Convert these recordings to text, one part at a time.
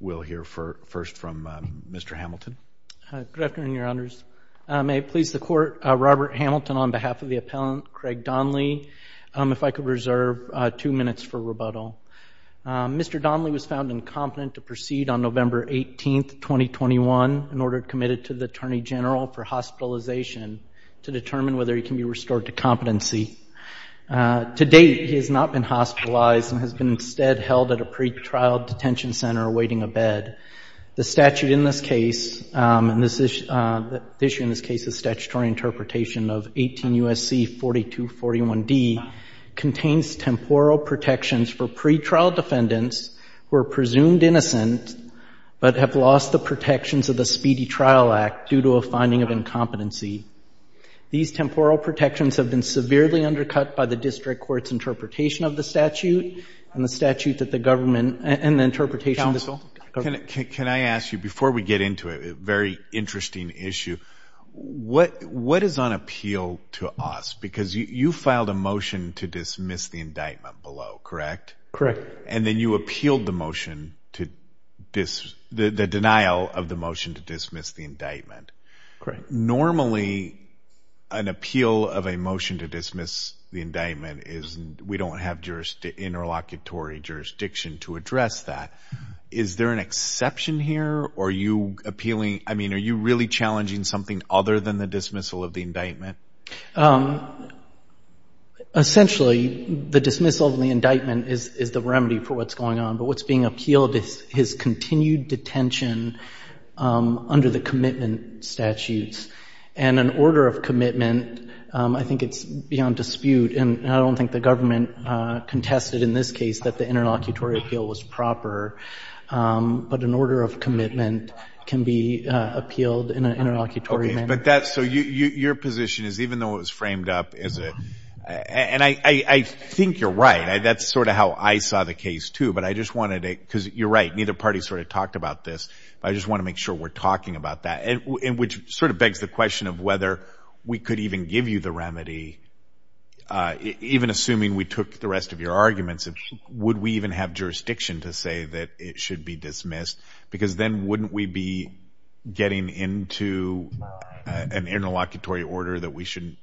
will hear first from Mr. Hamilton. Good afternoon, Your Honors. May it please the Court, Robert Hamilton on behalf of the appellant, Craig Donnelly, if I could reserve two minutes for rebuttal. Mr. Donnelly was found incompetent to proceed on November 18th, 2021 in order committed to the Attorney General for hospitalization to determine whether he can be restored to competency. To date, he has not been hospitalized and has been instead held at a pretrial detention center awaiting a bed. The statute in this case, and the issue in this case is statutory interpretation of 18 U.S.C. 4241D, contains temporal protections for pretrial defendants who are presumed innocent but have lost the protections of the Speedy Trial Act due to a finding of incompetency. These temporal protections have been severely undercut by the district court's interpretation of the statute and the statute that the government interpretation. Counsel, can I ask you, before we get into a very interesting issue, what is on appeal to us? Because you filed a motion to dismiss the indictment below, correct? Correct. And then you appealed the motion to dismiss, the denial of the motion to dismiss the indictment. Correct. Normally, an appeal of a motion to dismiss the indictment is we don't have interlocutory jurisdiction to address that. Is there an exception here or are you appealing, I mean, are you really challenging something other than the dismissal of the indictment? Essentially, the dismissal of the indictment is the remedy for what's going on. But what's being appealed is his continued detention under the commitment statutes. And an order of commitment, I think it's beyond dispute. And I don't think the government contested in this case that the interlocutory appeal was proper. But an order of commitment can be appealed in an interlocutory manner. But that's so your position is even though it was framed up as a, and I think you're right, that's sort of how I saw the case too. But I just wanted to, because you're right, neither party sort of talked about this. I just want to make sure we're talking about that. And which sort of begs the question of whether we could even give you the remedy, even assuming we took the rest of your arguments, would we even have jurisdiction to say that it should be dismissed? Because then wouldn't we be getting into an interlocutory order that we shouldn't,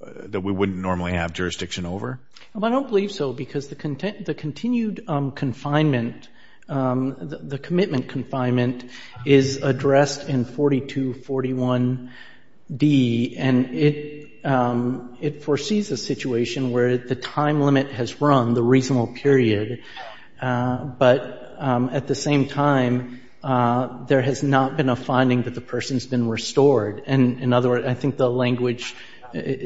that we wouldn't normally have jurisdiction over? I don't believe so because the continued confinement, the commitment confinement is addressed in 4241D. And it foresees a situation where the time limit has run, the reasonable period. But at the same time, there has not been a finding that the person's been restored. And in other words, I think the language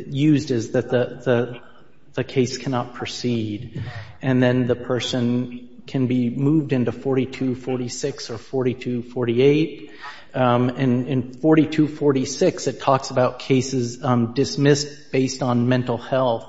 used is that the case cannot proceed. And then the person can be moved into 4246 or 4248. And in 4246, it talks about cases dismissed based on mental health.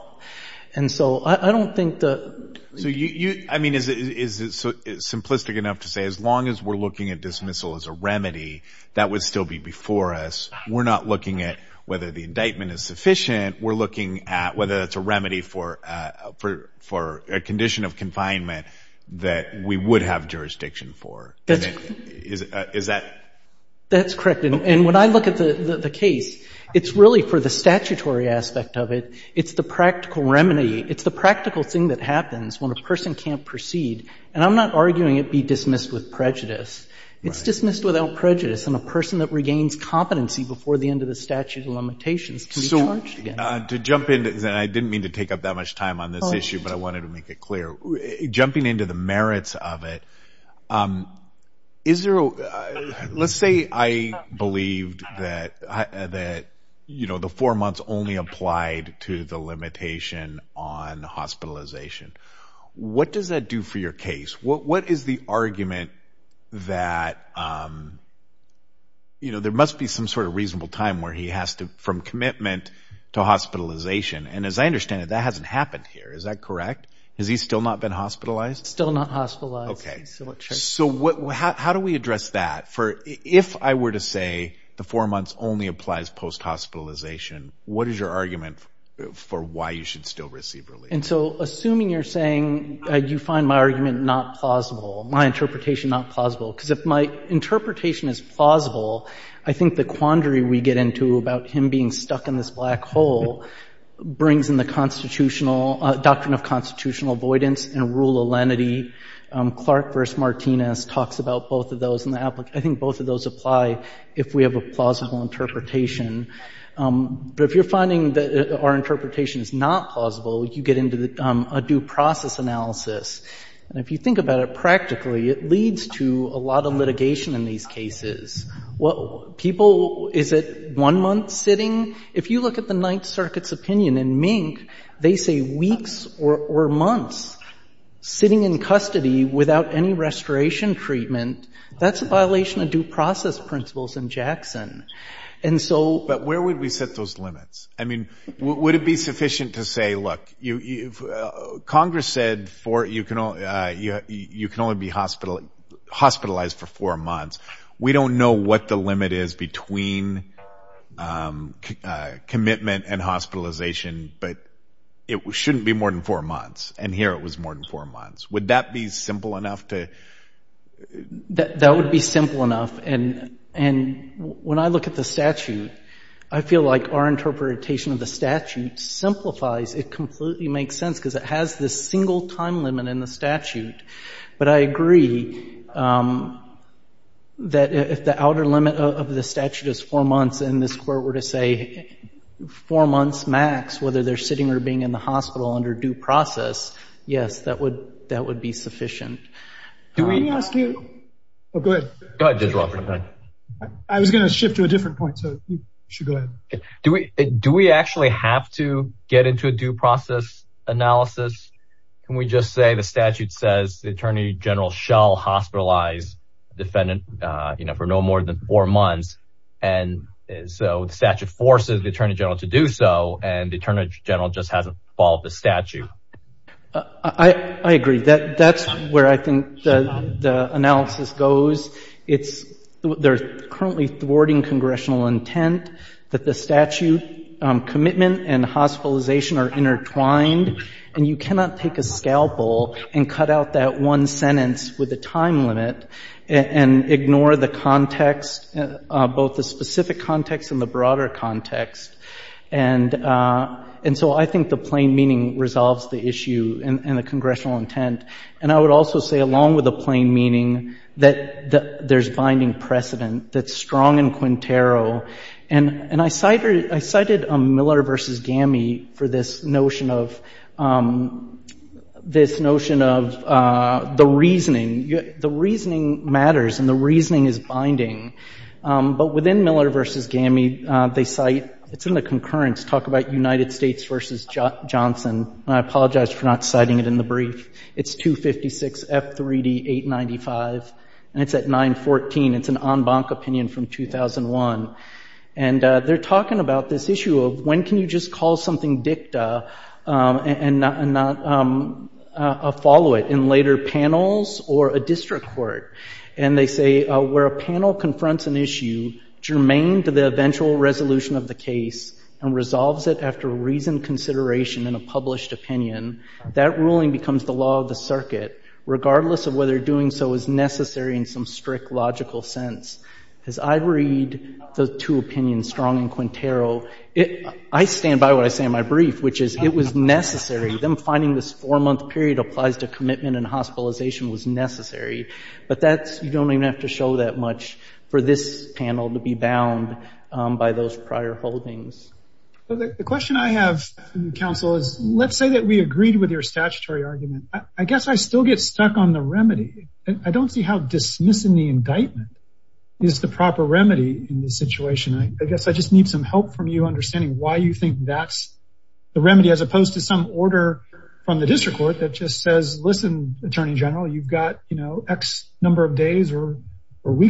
And so I don't think that... So you, I mean, is it simplistic enough to say as long as we're looking at dismissal as a remedy, that would still be before us. We're not looking at whether the indictment is sufficient. We're looking at whether it's a remedy for a condition of confinement that we would have jurisdiction for. That's correct. And when I look at the case, it's really for the statutory aspect of it. It's the practical remedy. It's the practical thing that happens when a person can't proceed. And I'm not arguing it be dismissed with prejudice. It's dismissed without prejudice. And a person that didn't mean to take up that much time on this issue, but I wanted to make it clear. Jumping into the merits of it. Let's say I believed that the four months only applied to the limitation on hospitalization. What does that do for your case? What is the argument that there must be some sort of reasonable time where he has to, from commitment to hospitalization. And as I understand it, that hasn't happened here. Is that correct? Has he still not been hospitalized? Still not hospitalized. Okay. So what, how do we address that for, if I were to say the four months only applies post hospitalization, what is your argument for why you should still receive relief? And so assuming you're saying you find my argument not plausible, my interpretation not plausible, I think the quandary we get into about him being stuck in this black hole brings in the constitutional, doctrine of constitutional avoidance and rule of lenity. Clark versus Martinez talks about both of those in the, I think both of those apply if we have a plausible interpretation. But if you're finding that our interpretation is not plausible, you get into a due process analysis. And if you think about it practically, it leads to a lot of litigation in these cases. What people, is it one month sitting? If you look at the Ninth Circuit's opinion in Mink, they say weeks or months sitting in custody without any restoration treatment, that's a violation of due process principles in Jackson. And so, But where would we set those limits? I mean, would it be sufficient to say, look, you, Congress said you can only be hospitalized for four months. We don't know what the limit is between commitment and hospitalization, but it shouldn't be more than four months. And here it was more than four months. Would that be simple enough to? That would be simple enough. And when I look at the statute, I feel like our interpretation of the statute simplifies. It completely makes sense because it has this single time limit in the statute. But I agree that if the outer limit of the statute is four months and this court were to say four months max, whether they're sitting or being in the hospital under due process, yes, that would that would be sufficient. Do we ask you? Oh, good. I was going to shift to a different point. So you should go ahead. Do we do we actually have to get into a due process analysis? Can we just say the statute says the attorney general shall hospitalize defendant for no more than four months. And so the statute forces the attorney general to do so. And the attorney general just hasn't followed the statute. I agree that that's where I think the analysis goes. It's there's currently thwarting congressional intent that the statute commitment and hospitalization are intertwined. And you cannot take a scalpel and cut out that one sentence with the time limit and ignore the context, both the specific context and the broader context. And and so I think the plain meaning resolves the issue and the congressional intent. And I would also say, along with the plain meaning, that there's binding precedent that's strong in Quintero. And and I cited I cited Miller v. GAMI for this notion of this notion of the reasoning. The reasoning matters and the reasoning is binding. But within Miller v. GAMI, they cite it's in the concurrence talk about United States v. Johnson. And I apologize for not citing it in the brief. It's 256 F3D 895 and it's at 914. It's an en banc opinion from 2001. And they're talking about this issue of when can you just call something dicta and not follow it in later panels or a district court? And they say where a panel confronts an issue germane to the eventual resolution of the case and resolves it after reasoned consideration in a published opinion, that ruling becomes the law of the circuit, regardless of whether doing so is necessary in some strict logical sense. As I read the two opinions strong in Quintero, it I stand by what I say in my brief, which is it was necessary. Them finding this four month period applies to commitment and hospitalization was necessary. But that's you don't even have to show that much for this panel to be bound by those prior holdings. But the question I have, counsel is, let's say that we agreed with your statutory argument, I guess I still get stuck on the remedy. I don't see how dismissing the indictment is the proper remedy in this situation. I guess I just need some help from you understanding why you think that's the remedy as opposed to some order from the district court that just says, Listen, Attorney General, you've got, you know, X number of years, you've got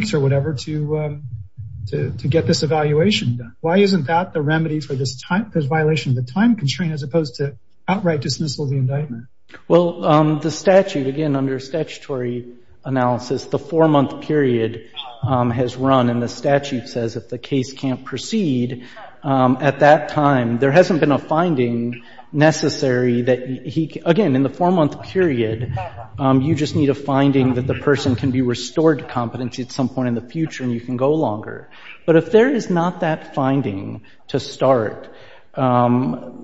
the remedy for this violation of the time constraint as opposed to outright dismissal of the indictment. Well, the statute, again, under statutory analysis, the four month period has run and the statute says if the case can't proceed at that time, there hasn't been a finding necessary that he, again, in the four month period, you just need a finding that the person can be restored to competency at some point in the future and you can go longer. But if there is not that finding to start to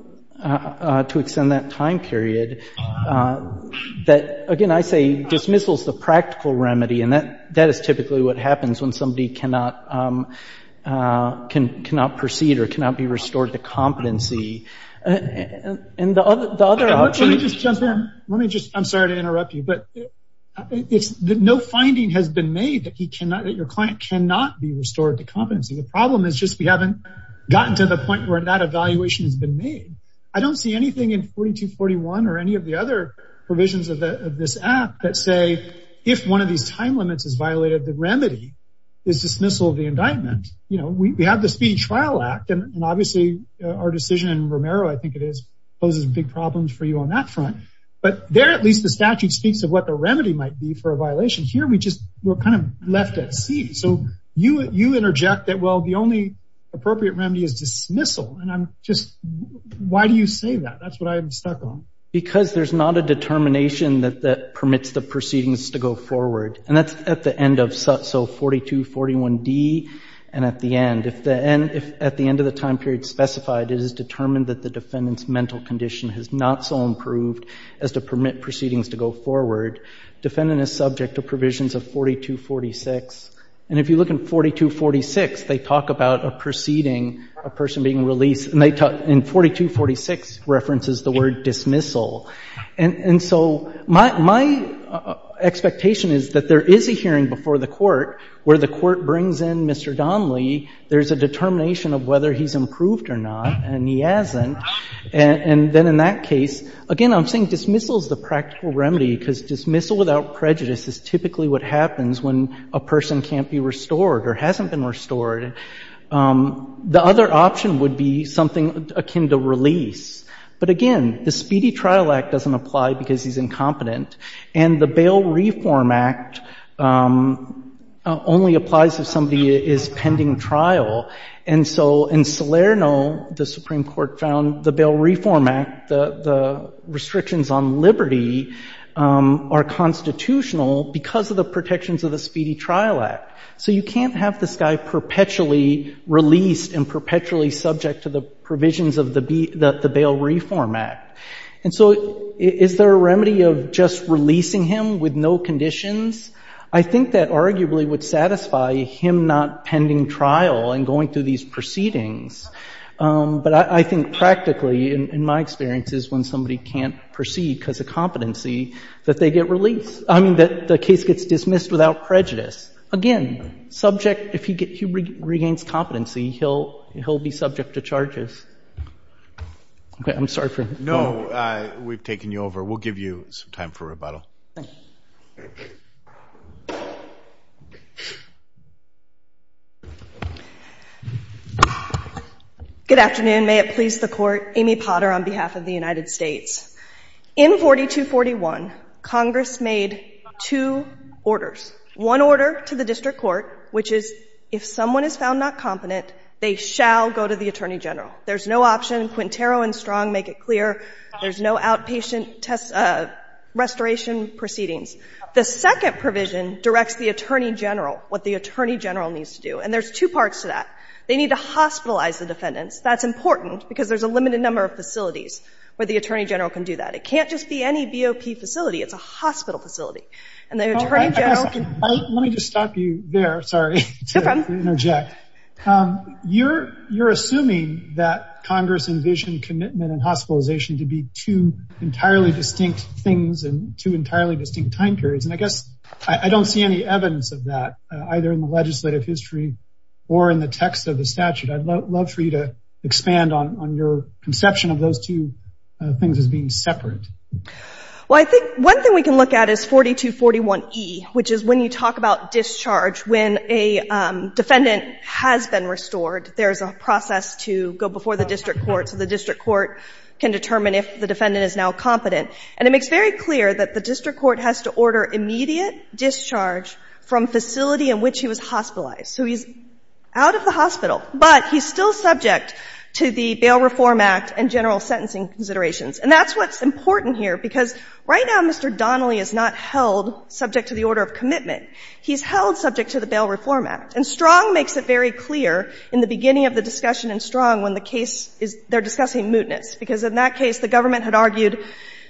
extend that time period, that, again, I say dismissal is the practical remedy. And that is typically what happens when somebody cannot proceed or cannot be restored to competency. And the other option... Let me just, I'm sorry to interrupt you, but it's the no finding has been made that he cannot, that your client cannot be restored to competency. The problem is just we haven't gotten to the point where that evaluation has been made. I don't see anything in 4241 or any of the other provisions of this act that say, if one of these time limits is violated, the remedy is dismissal of the indictment. You know, we have the speeding trial act, and obviously our decision in Romero, I think it is, poses big problems for you on that front. But there, at least the statute speaks of what the remedy might be for a violation. Here, we just were kind of left at sea. So you interject that, well, the only appropriate remedy is dismissal. And I'm just, why do you say that? That's what I'm stuck on. Because there's not a determination that permits the proceedings to go forward. And that's at the end of, so 4241D and at the end. If at the end of the time period specified, it is determined that the defendant's mental condition has not so improved as to permit proceedings to go forward. Defendant is subject to provisions of 4246. And if you look in 4246, they talk about a proceeding, a person being released, and they talk, in 4246, references the word dismissal. And so my expectation is that there is a hearing before the court where the court brings in Mr. Donley. There's a determination of whether he's improved or not, and he hasn't. And then in that case, again, I'm saying dismissal is the practical remedy, because dismissal without prejudice is typically what happens when a person can't be restored or hasn't been restored. The other option would be something akin to release. But again, the Speedy Trial Act doesn't apply because he's incompetent. And the Bail Reform Act only applies if somebody is pending trial. And so in Salerno, the Supreme Court found the Bail Reform Act, the restrictions on liberty, are perpetually released and perpetually subject to the provisions of the Bail Reform Act. And so is there a remedy of just releasing him with no conditions? I think that arguably would satisfy him not pending trial and going through these proceedings. But I think practically, in my experience, is when somebody can't proceed because of competency, that they get released. I mean, the case gets dismissed without prejudice. Again, subject, if he regains competency, he'll be subject to charges. Okay. I'm sorry for that. No. We've taken you over. We'll give you some time for rebuttal. Thank you. Good afternoon. May it please the Court. Amy Potter on behalf of the United States. In 4241, Congress made two orders. One order to the district court, which is if someone is found not competent, they shall go to the attorney general. There's no option. Quintero and Strong make it clear. There's no outpatient restoration proceedings. The second provision directs the attorney general, what the attorney general needs to do. And there's two parts to that. They need to hospitalize the defendants. That's important because there's a limited number of facilities where the attorney general can do that. It can't just be any BOP facility. It's a hospital facility. And the attorney general can... Let me just stop you there. Sorry to interject. You're assuming that Congress envisioned commitment and hospitalization to be two entirely distinct things and two entirely distinct time periods. And I guess I don't see any evidence of that, either in the legislative history or in the text of the statute. I'd love for you to expand on your conception of those two things as being separate. Well, I think one thing we can look at is 4241E, which is when you talk about discharge, when a defendant has been restored, there's a process to go before the district court so the district court can determine if the defendant is now competent. And it makes very clear that the district court has to order immediate discharge from facility in which he was hospitalized. So he's out of the hospital, but he's still subject to the Bail Reform Act and general sentencing considerations. And that's what's important here, because right now Mr. Donnelly is not held subject to the order of commitment. He's held subject to the Bail Reform Act. And Strong makes it very clear in the beginning of the discussion in Strong when the case is they're discussing mootness, because in that case the government had argued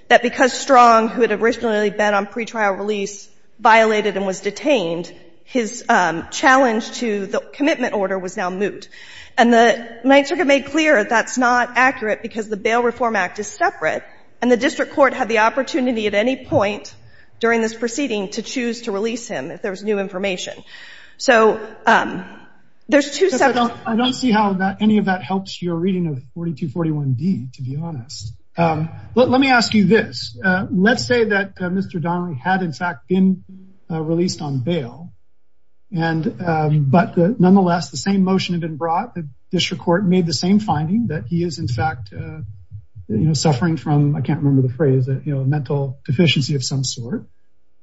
that because Strong, who had originally been on pretrial release, violated and was detained, his challenge to the commitment order was now moot. And the Ninth Circuit made clear that that's not accurate because the Bail Reform Act is separate, and the district court had the opportunity at any point during this proceeding to choose to release him if there was new information. So there's two separate things. 4241D, to be honest. Let me ask you this. Let's say that Mr. Donnelly had, in fact, been released on bail, but nonetheless, the same motion had been brought. The district court made the same finding that he is, in fact, suffering from, I can't remember the phrase, a mental deficiency of some sort.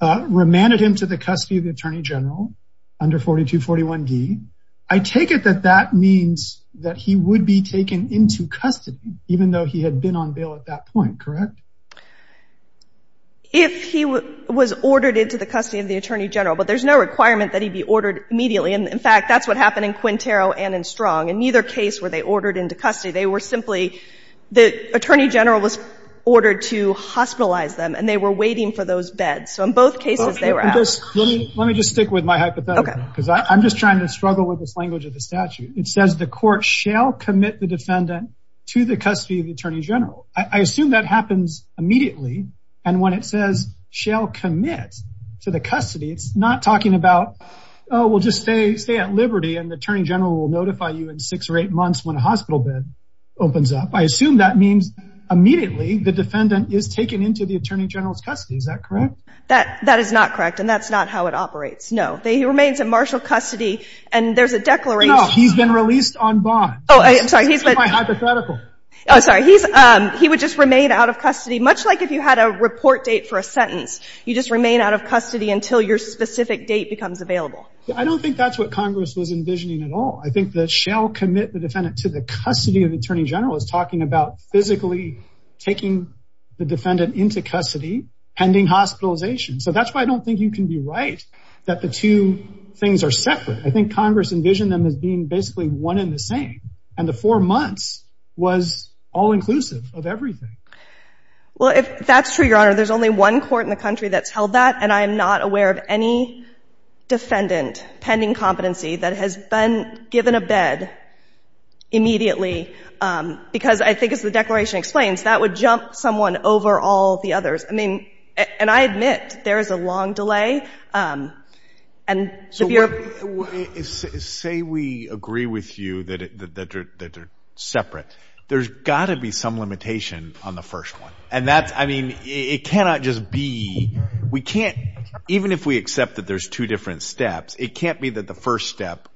Remanded him to the custody of the attorney general under 4241D. I take it that that means that he would be taken into custody, even though he had been on bail at that point, correct? If he was ordered into the custody of the attorney general, but there's no requirement that he be ordered immediately. And in fact, that's what happened in Quintero and in Strong. In neither case were they ordered into custody. They were simply, the attorney general was ordered to hospitalize them, and they were waiting for those beds. So in both cases, they were out. Let me just stick with my hypothetical. Because I'm just trying to struggle with this language of the statute. It says the court shall commit the defendant to the custody of the attorney general. I assume that happens immediately. And when it says shall commit to the custody, it's not talking about, oh, we'll just stay at liberty, and the attorney general will notify you in six or eight months when a hospital bed opens up. I assume that means immediately, the defendant is taken into the attorney general's custody. Is that correct? That is not correct, and that's not how it operates. No, he remains in martial custody, and there's a declaration. No, he's been released on bond. Oh, I'm sorry. He's my hypothetical. Oh, sorry. He would just remain out of custody, much like if you had a report date for a sentence. You just remain out of custody until your specific date becomes available. I don't think that's what Congress was envisioning at all. I think the shall commit the defendant to the custody of the attorney general is talking about physically taking the defendant into custody, pending hospitalization. So that's why I don't think you can be right that the two things are separate. I think Congress envisioned them as being basically one and the same, and the four months was all-inclusive of everything. Well, that's true, Your Honor. There's only one court in the country that's held that, and I am not aware of any defendant pending competency that has been given a bed immediately, because I think, as the declaration explains, that would jump someone over all the others. And I admit, there is a long delay. Say we agree with you that they're separate. There's got to be some limitation on the first one. Even if we accept that there's two different steps, it can't be that the first step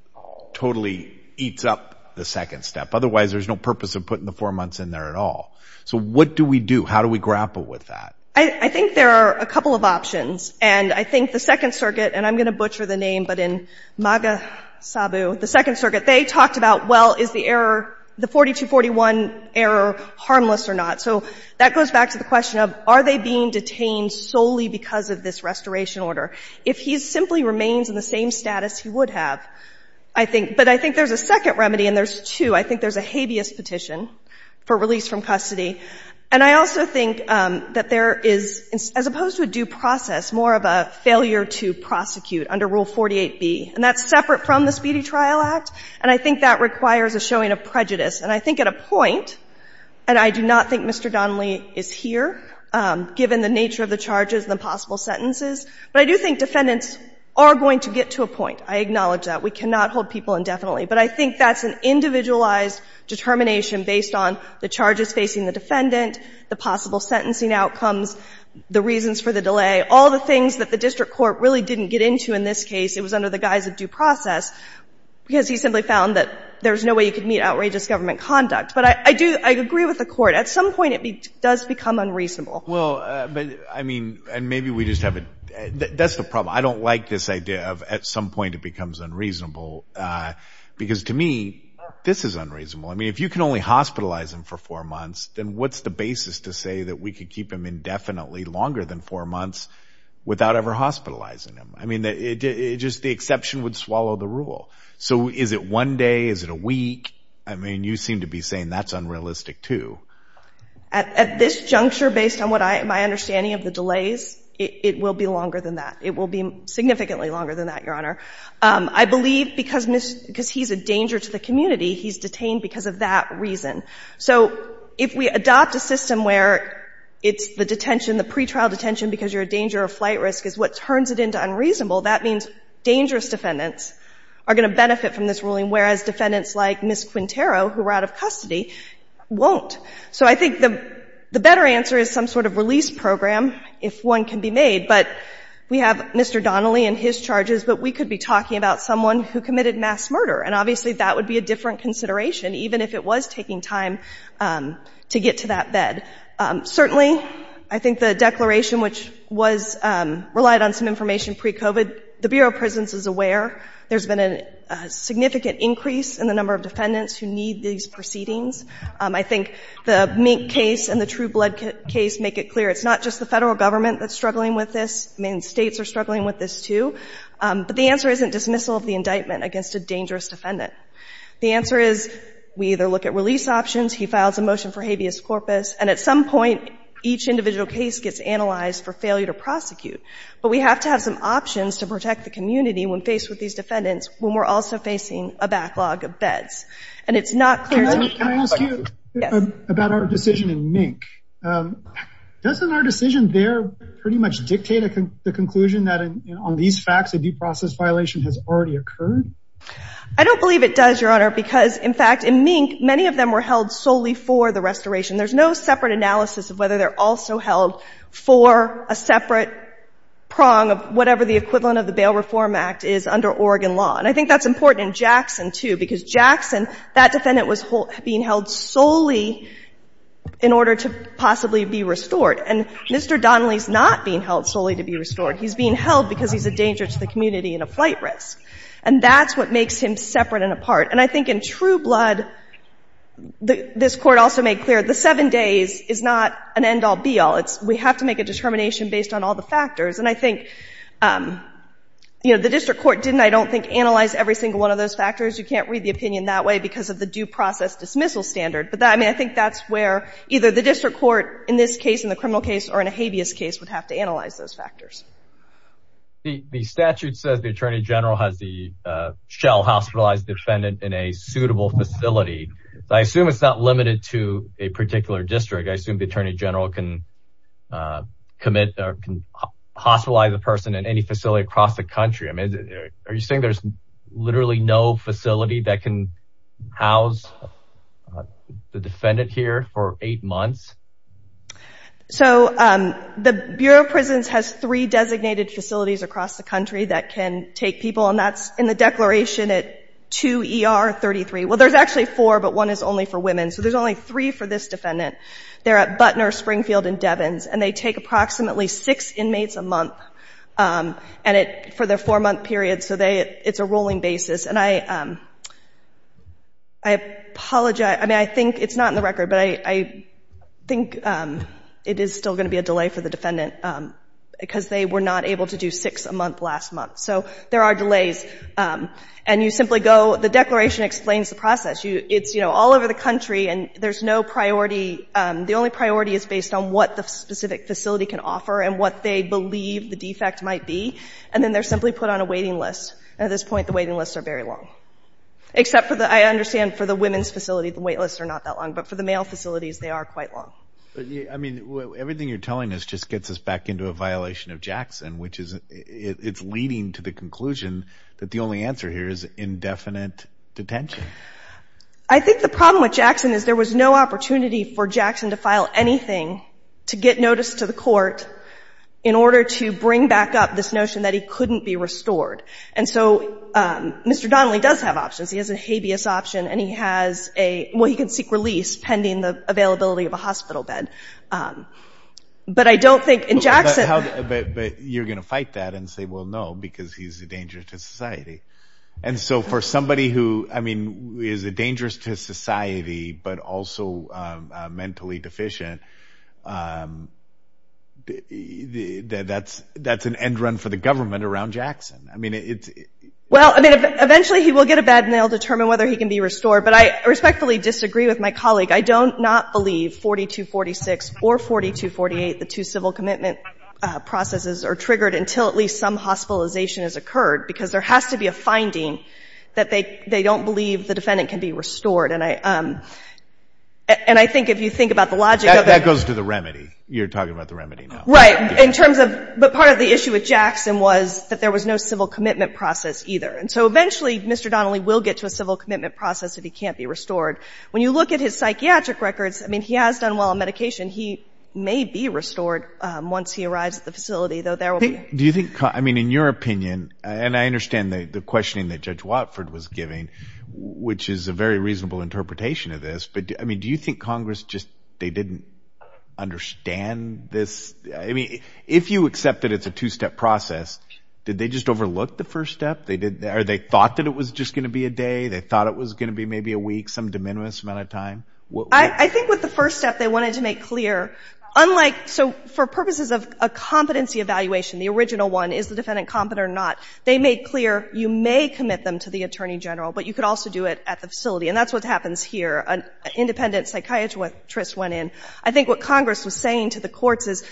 totally eats up the second step. Otherwise, there's no purpose of putting the four months in there at all. So what do we do? How do we grapple with that? I think there are a couple of options. And I think the Second Circuit, and I'm going to butcher the name, but in Magasabu, the Second Circuit, they talked about, well, is the error, the 4241 error harmless or not? So that goes back to the question of, are they being detained solely because of this restoration order? If he simply remains in the same status, he would have, I think. But I think there's a second remedy, and there's two. I think there's a habeas petition for release from custody. And I also think that there is, as opposed to a due process, more of a failure to prosecute under Rule 48B. And that's separate from the Speedy Trial Act, and I think that requires a showing of prejudice. And I think at a point, and I do not think Mr. Donnelly is here, given the nature of the charges and the possible sentences, but I do think defendants are going to get to a point. I acknowledge that. We cannot hold people indefinitely. But I think that's an individualized determination based on the charges facing the defendant, the possible sentencing outcomes, the reasons for the delay, all the things that the district court really didn't get into in this case. It was under the guise of due process, because he simply found that there's no way you could meet outrageous government conduct. But I do agree with the Court. At some point, it does become unreasonable. Well, but, I mean, and maybe we just have a — that's the problem. I don't like this idea of at some point it becomes unreasonable, because to me, this is unreasonable. I mean, if you can only hospitalize him for four months, then what's the basis to say that we could keep him indefinitely, longer than four months, without ever hospitalizing him? I mean, just the exception would swallow the rule. So is it one day? Is it a week? I mean, you seem to be saying that's unrealistic, too. At this juncture, based on my understanding of the delays, it will be longer than that. It will be significantly longer than that, Your Honor. I believe because he's a danger to the community, he's detained because of that reason. So if we adopt a system where it's the detention, the pretrial detention, because you're a danger or flight risk, is what turns it into unreasonable, that means dangerous defendants are going to benefit from this ruling, whereas defendants like Ms. Quintero, who were out of custody, won't. So I think the better answer is some sort of release program, if one can be made. But we have Mr. Donnelly and his charges, but we could be talking about someone who committed mass murder. And obviously, that would be a different consideration, even if it was taking time to get to that bed. Certainly, I think the declaration, which relied on some information pre-COVID, the Bureau of Prisons is aware there's been a significant increase in the number of defendants who need these proceedings. I think the Mink case and the True Blood case make it clear it's not just the federal government that's struggling with this. I mean, states are struggling with this, too. But the answer isn't dismissal of the indictment against a dangerous defendant. The answer is, we either look at release options, he files a motion for habeas corpus, and at some point, each individual case gets analyzed for failure to prosecute. But we have to have some options to protect the community when faced with these defendants when we're also facing a backlog of beds. And it's not clear to me... Can I ask you about our decision in Mink? Doesn't our decision there pretty much dictate the conclusion that on these facts, a due process violation has already occurred? I don't believe it does, Your Honor, because, in fact, in Mink, many of them were held solely for the restoration. There's no separate analysis of whether they're also held for a separate prong of whatever the equivalent of the Bail Reform Act is under Oregon law. And I think that's important in Jackson, too, because Jackson, that defendant was being held solely in order to possibly be restored. And Mr. Donnelly's not being held solely to be restored. He's being held because he's a danger to the community and a flight risk. And that's what makes him separate and apart. And I think in true blood, this Court also made clear, the seven days is not an end-all, be-all. We have to make a determination based on all the factors. And I think, you know, the District Court didn't, I don't think, analyze every single one of those factors. You can't read the opinion that way because of the due process dismissal standard. But, I mean, I think that's where either the District Court in this case, in the criminal case, or in a habeas case would have to analyze those factors. The statute says the Attorney General has the shell hospitalized defendant in a suitable facility. I assume it's not limited to a particular District. I assume the Attorney General can commit, or can hospitalize a person in any facility across the country. I mean, are you saying there's literally no facility that can house the defendant here for eight months? So, the Bureau of Prisons has three designated facilities across the country that can take people. And that's in the declaration at 2 ER 33. Well, there's actually four, but one is only for women. So there's only three for this defendant. They're at Butner, Springfield, and Devens. And they take approximately six inmates a month for their four-month period. So it's a rolling basis. And I apologize. I mean, I think, it's not in the record, but I think it is still going to be a delay for the defendant because they were not able to do six a month last month. So there are delays. And you simply go, the declaration explains the process. It's all over the country. And there's no priority. The only priority is based on what the specific facility can offer and what they believe the defect might be. And then they're simply put on a waiting list. And at this point, the waiting lists are very long. Except for the, I understand for the women's facility, the wait lists are not that long. But for the male facilities, they are quite long. I mean, everything you're telling us just gets us back into a violation of Jackson, which is it's leading to the conclusion that the only answer here is indefinite detention. I think the problem with Jackson is there was no opportunity for Jackson to file anything to get notice to the court in order to bring back up this notion that he couldn't be restored. And so Mr. Donnelly does have options. He has a habeas option. And he has a, well, he can seek release pending the availability of a hospital bed. But I don't think in Jackson- But you're going to fight that and say, well, no, because he's a danger to society. And so for somebody who, I mean, is a dangerous to society, but also mentally deficient, that's an end run for the government around Jackson. I mean, it's- Well, I mean, eventually he will get a bed and they'll determine whether he can be restored. But I respectfully disagree with my colleague. I do not believe 4246 or 4248, the two civil commitment processes, are triggered until at least some hospitalization has occurred. Because there has to be a finding that they don't believe the defendant can be restored. And I think if you think about the logic of it- That goes to the remedy. You're talking about the remedy now. Right. In terms of- But part of the issue with Jackson was that there was no civil commitment process either. And so eventually Mr. Donnelly will get to a civil commitment process if he can't be restored. When you look at his psychiatric records, I mean, he has done well on medication. He may be restored once he arrives at the facility, though there will be- Do you think- I mean, in your opinion, and I understand the questioning that Judge Watford was giving, which is a very reasonable interpretation of this, but I mean, do you think Congress just, they didn't understand this? I mean, if you accept that it's a two-step process, did they just overlook the first step? Or they thought that it was just going to be a day? They thought it was going to be maybe a week, some de minimis amount of time? I think with the first step, they wanted to make clear, unlike- So for purposes of a competency evaluation, the original one, is the defendant competent or not? They made clear you may commit them to the attorney general, but you could also do it at the facility. And that's what happens here. An independent psychiatrist went in. I think what Congress was saying to the courts is,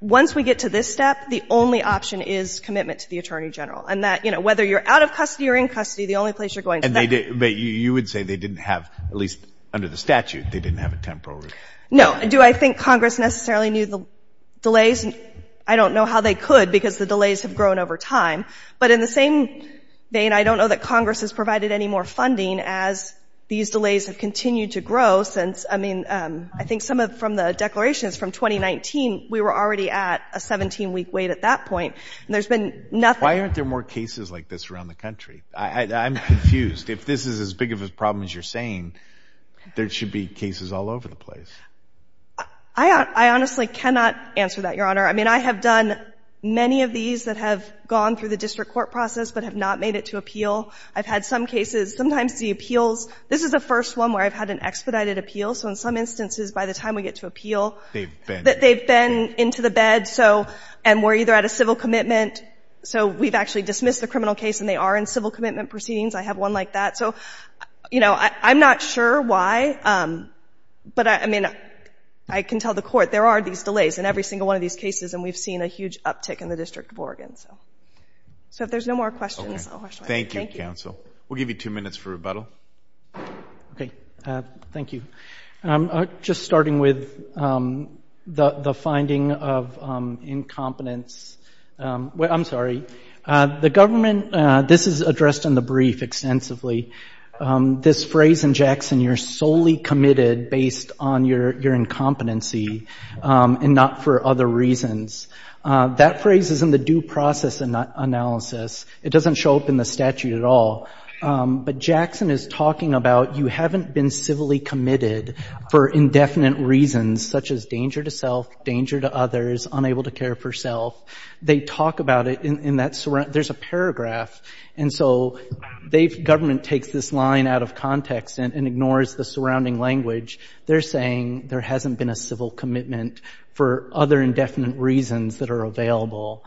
once we get to this step, the only option is commitment to the attorney general. And that whether you're out of custody or in custody, the only place you're going- And you would say they didn't have, at least under the statute, they didn't have a temporary- No. Do I think Congress necessarily knew the delays? I don't know how they could, because the delays have grown over time. But in the same vein, I don't know that Congress has provided any more funding as these delays have continued to grow since, I mean, I think some of, from the declarations from 2019, we were already at a 17-week wait at that point. And there's been nothing- Why aren't there more cases like this around the country? I'm confused. If this is as big of a problem as you're saying, there should be cases all over the place. I honestly cannot answer that, Your Honor. I mean, I have done many of these that have gone through the district court process, but have not made it to appeal. I've had some cases, sometimes the appeals, this is the first one where I've had an expedited appeal. So in some instances, by the time we get to appeal- They've been- They've been into the bed. So, and we're either at a civil commitment. So we've actually dismissed the criminal case, and they are in civil commitment proceedings. I have one like that. So, you know, I'm not sure why, but I mean, I can tell the court, there are these delays in every single one of these cases, and we've seen a huge uptick in the District of Oregon. So if there's no more questions, I'll- Thank you, counsel. We'll give you two minutes for rebuttal. Okay, thank you. Just starting with the finding of incompetence I'm sorry, the government, this is addressed in the brief extensively. This phrase in Jackson, you're solely committed based on your incompetency and not for other reasons. That phrase is in the due process analysis. It doesn't show up in the statute at all. But Jackson is talking about, you haven't been civilly committed for indefinite reasons, such as danger to self, danger to others, unable to care for self. They talk about it in that, there's a paragraph. And so they've, government takes this line out of context and ignores the surrounding language. They're saying there hasn't been a civil commitment for other indefinite reasons that are available.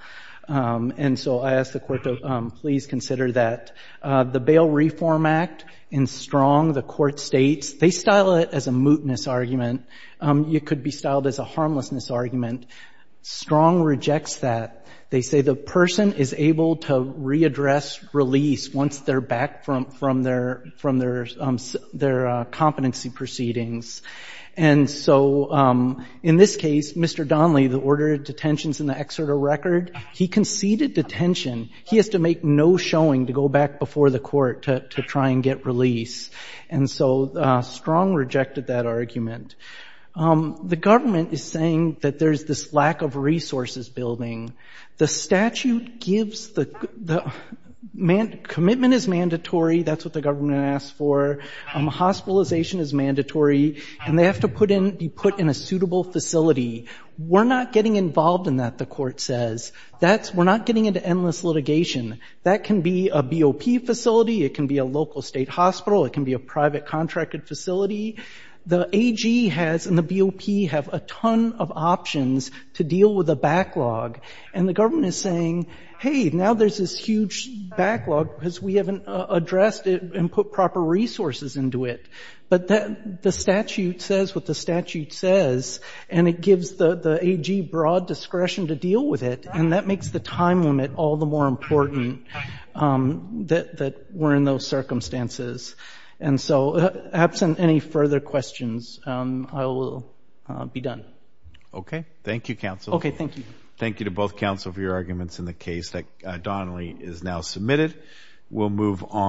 And so I asked the court to please consider that. The Bail Reform Act in Strong, the court states, they style it as a mootness argument. You could be styled as a harmlessness argument. Strong rejects that. They say the person is able to readdress release once they're back from their competency proceedings. And so in this case, Mr. Donley, the order of detentions in the exerto record, he conceded detention. He has to make no showing to go back before the court to try and get release. And so Strong rejected that argument. The government is saying that there's this lack of resources building. The statute gives the, commitment is mandatory. That's what the government asks for. Hospitalization is mandatory. And they have to put in, be put in a suitable facility. We're not getting involved in that, the court says. That's, we're not getting into endless litigation. That can be a BOP facility. It can be a local state hospital. It can be a private contracted facility. The AG has, and the BOP have a ton of options to deal with a backlog. And the government is saying, hey, now there's this huge backlog because we haven't addressed it and put proper resources into it. But the statute says what the statute says. And it gives the AG broad discretion to deal with it. And that makes the time limit all the more important that we're in those circumstances. And so absent any further questions, I will be done. Okay. Thank you, counsel. Okay. Thank you. Thank you to both counsel for your arguments in the case that Donnelly is now submitted. We'll move on.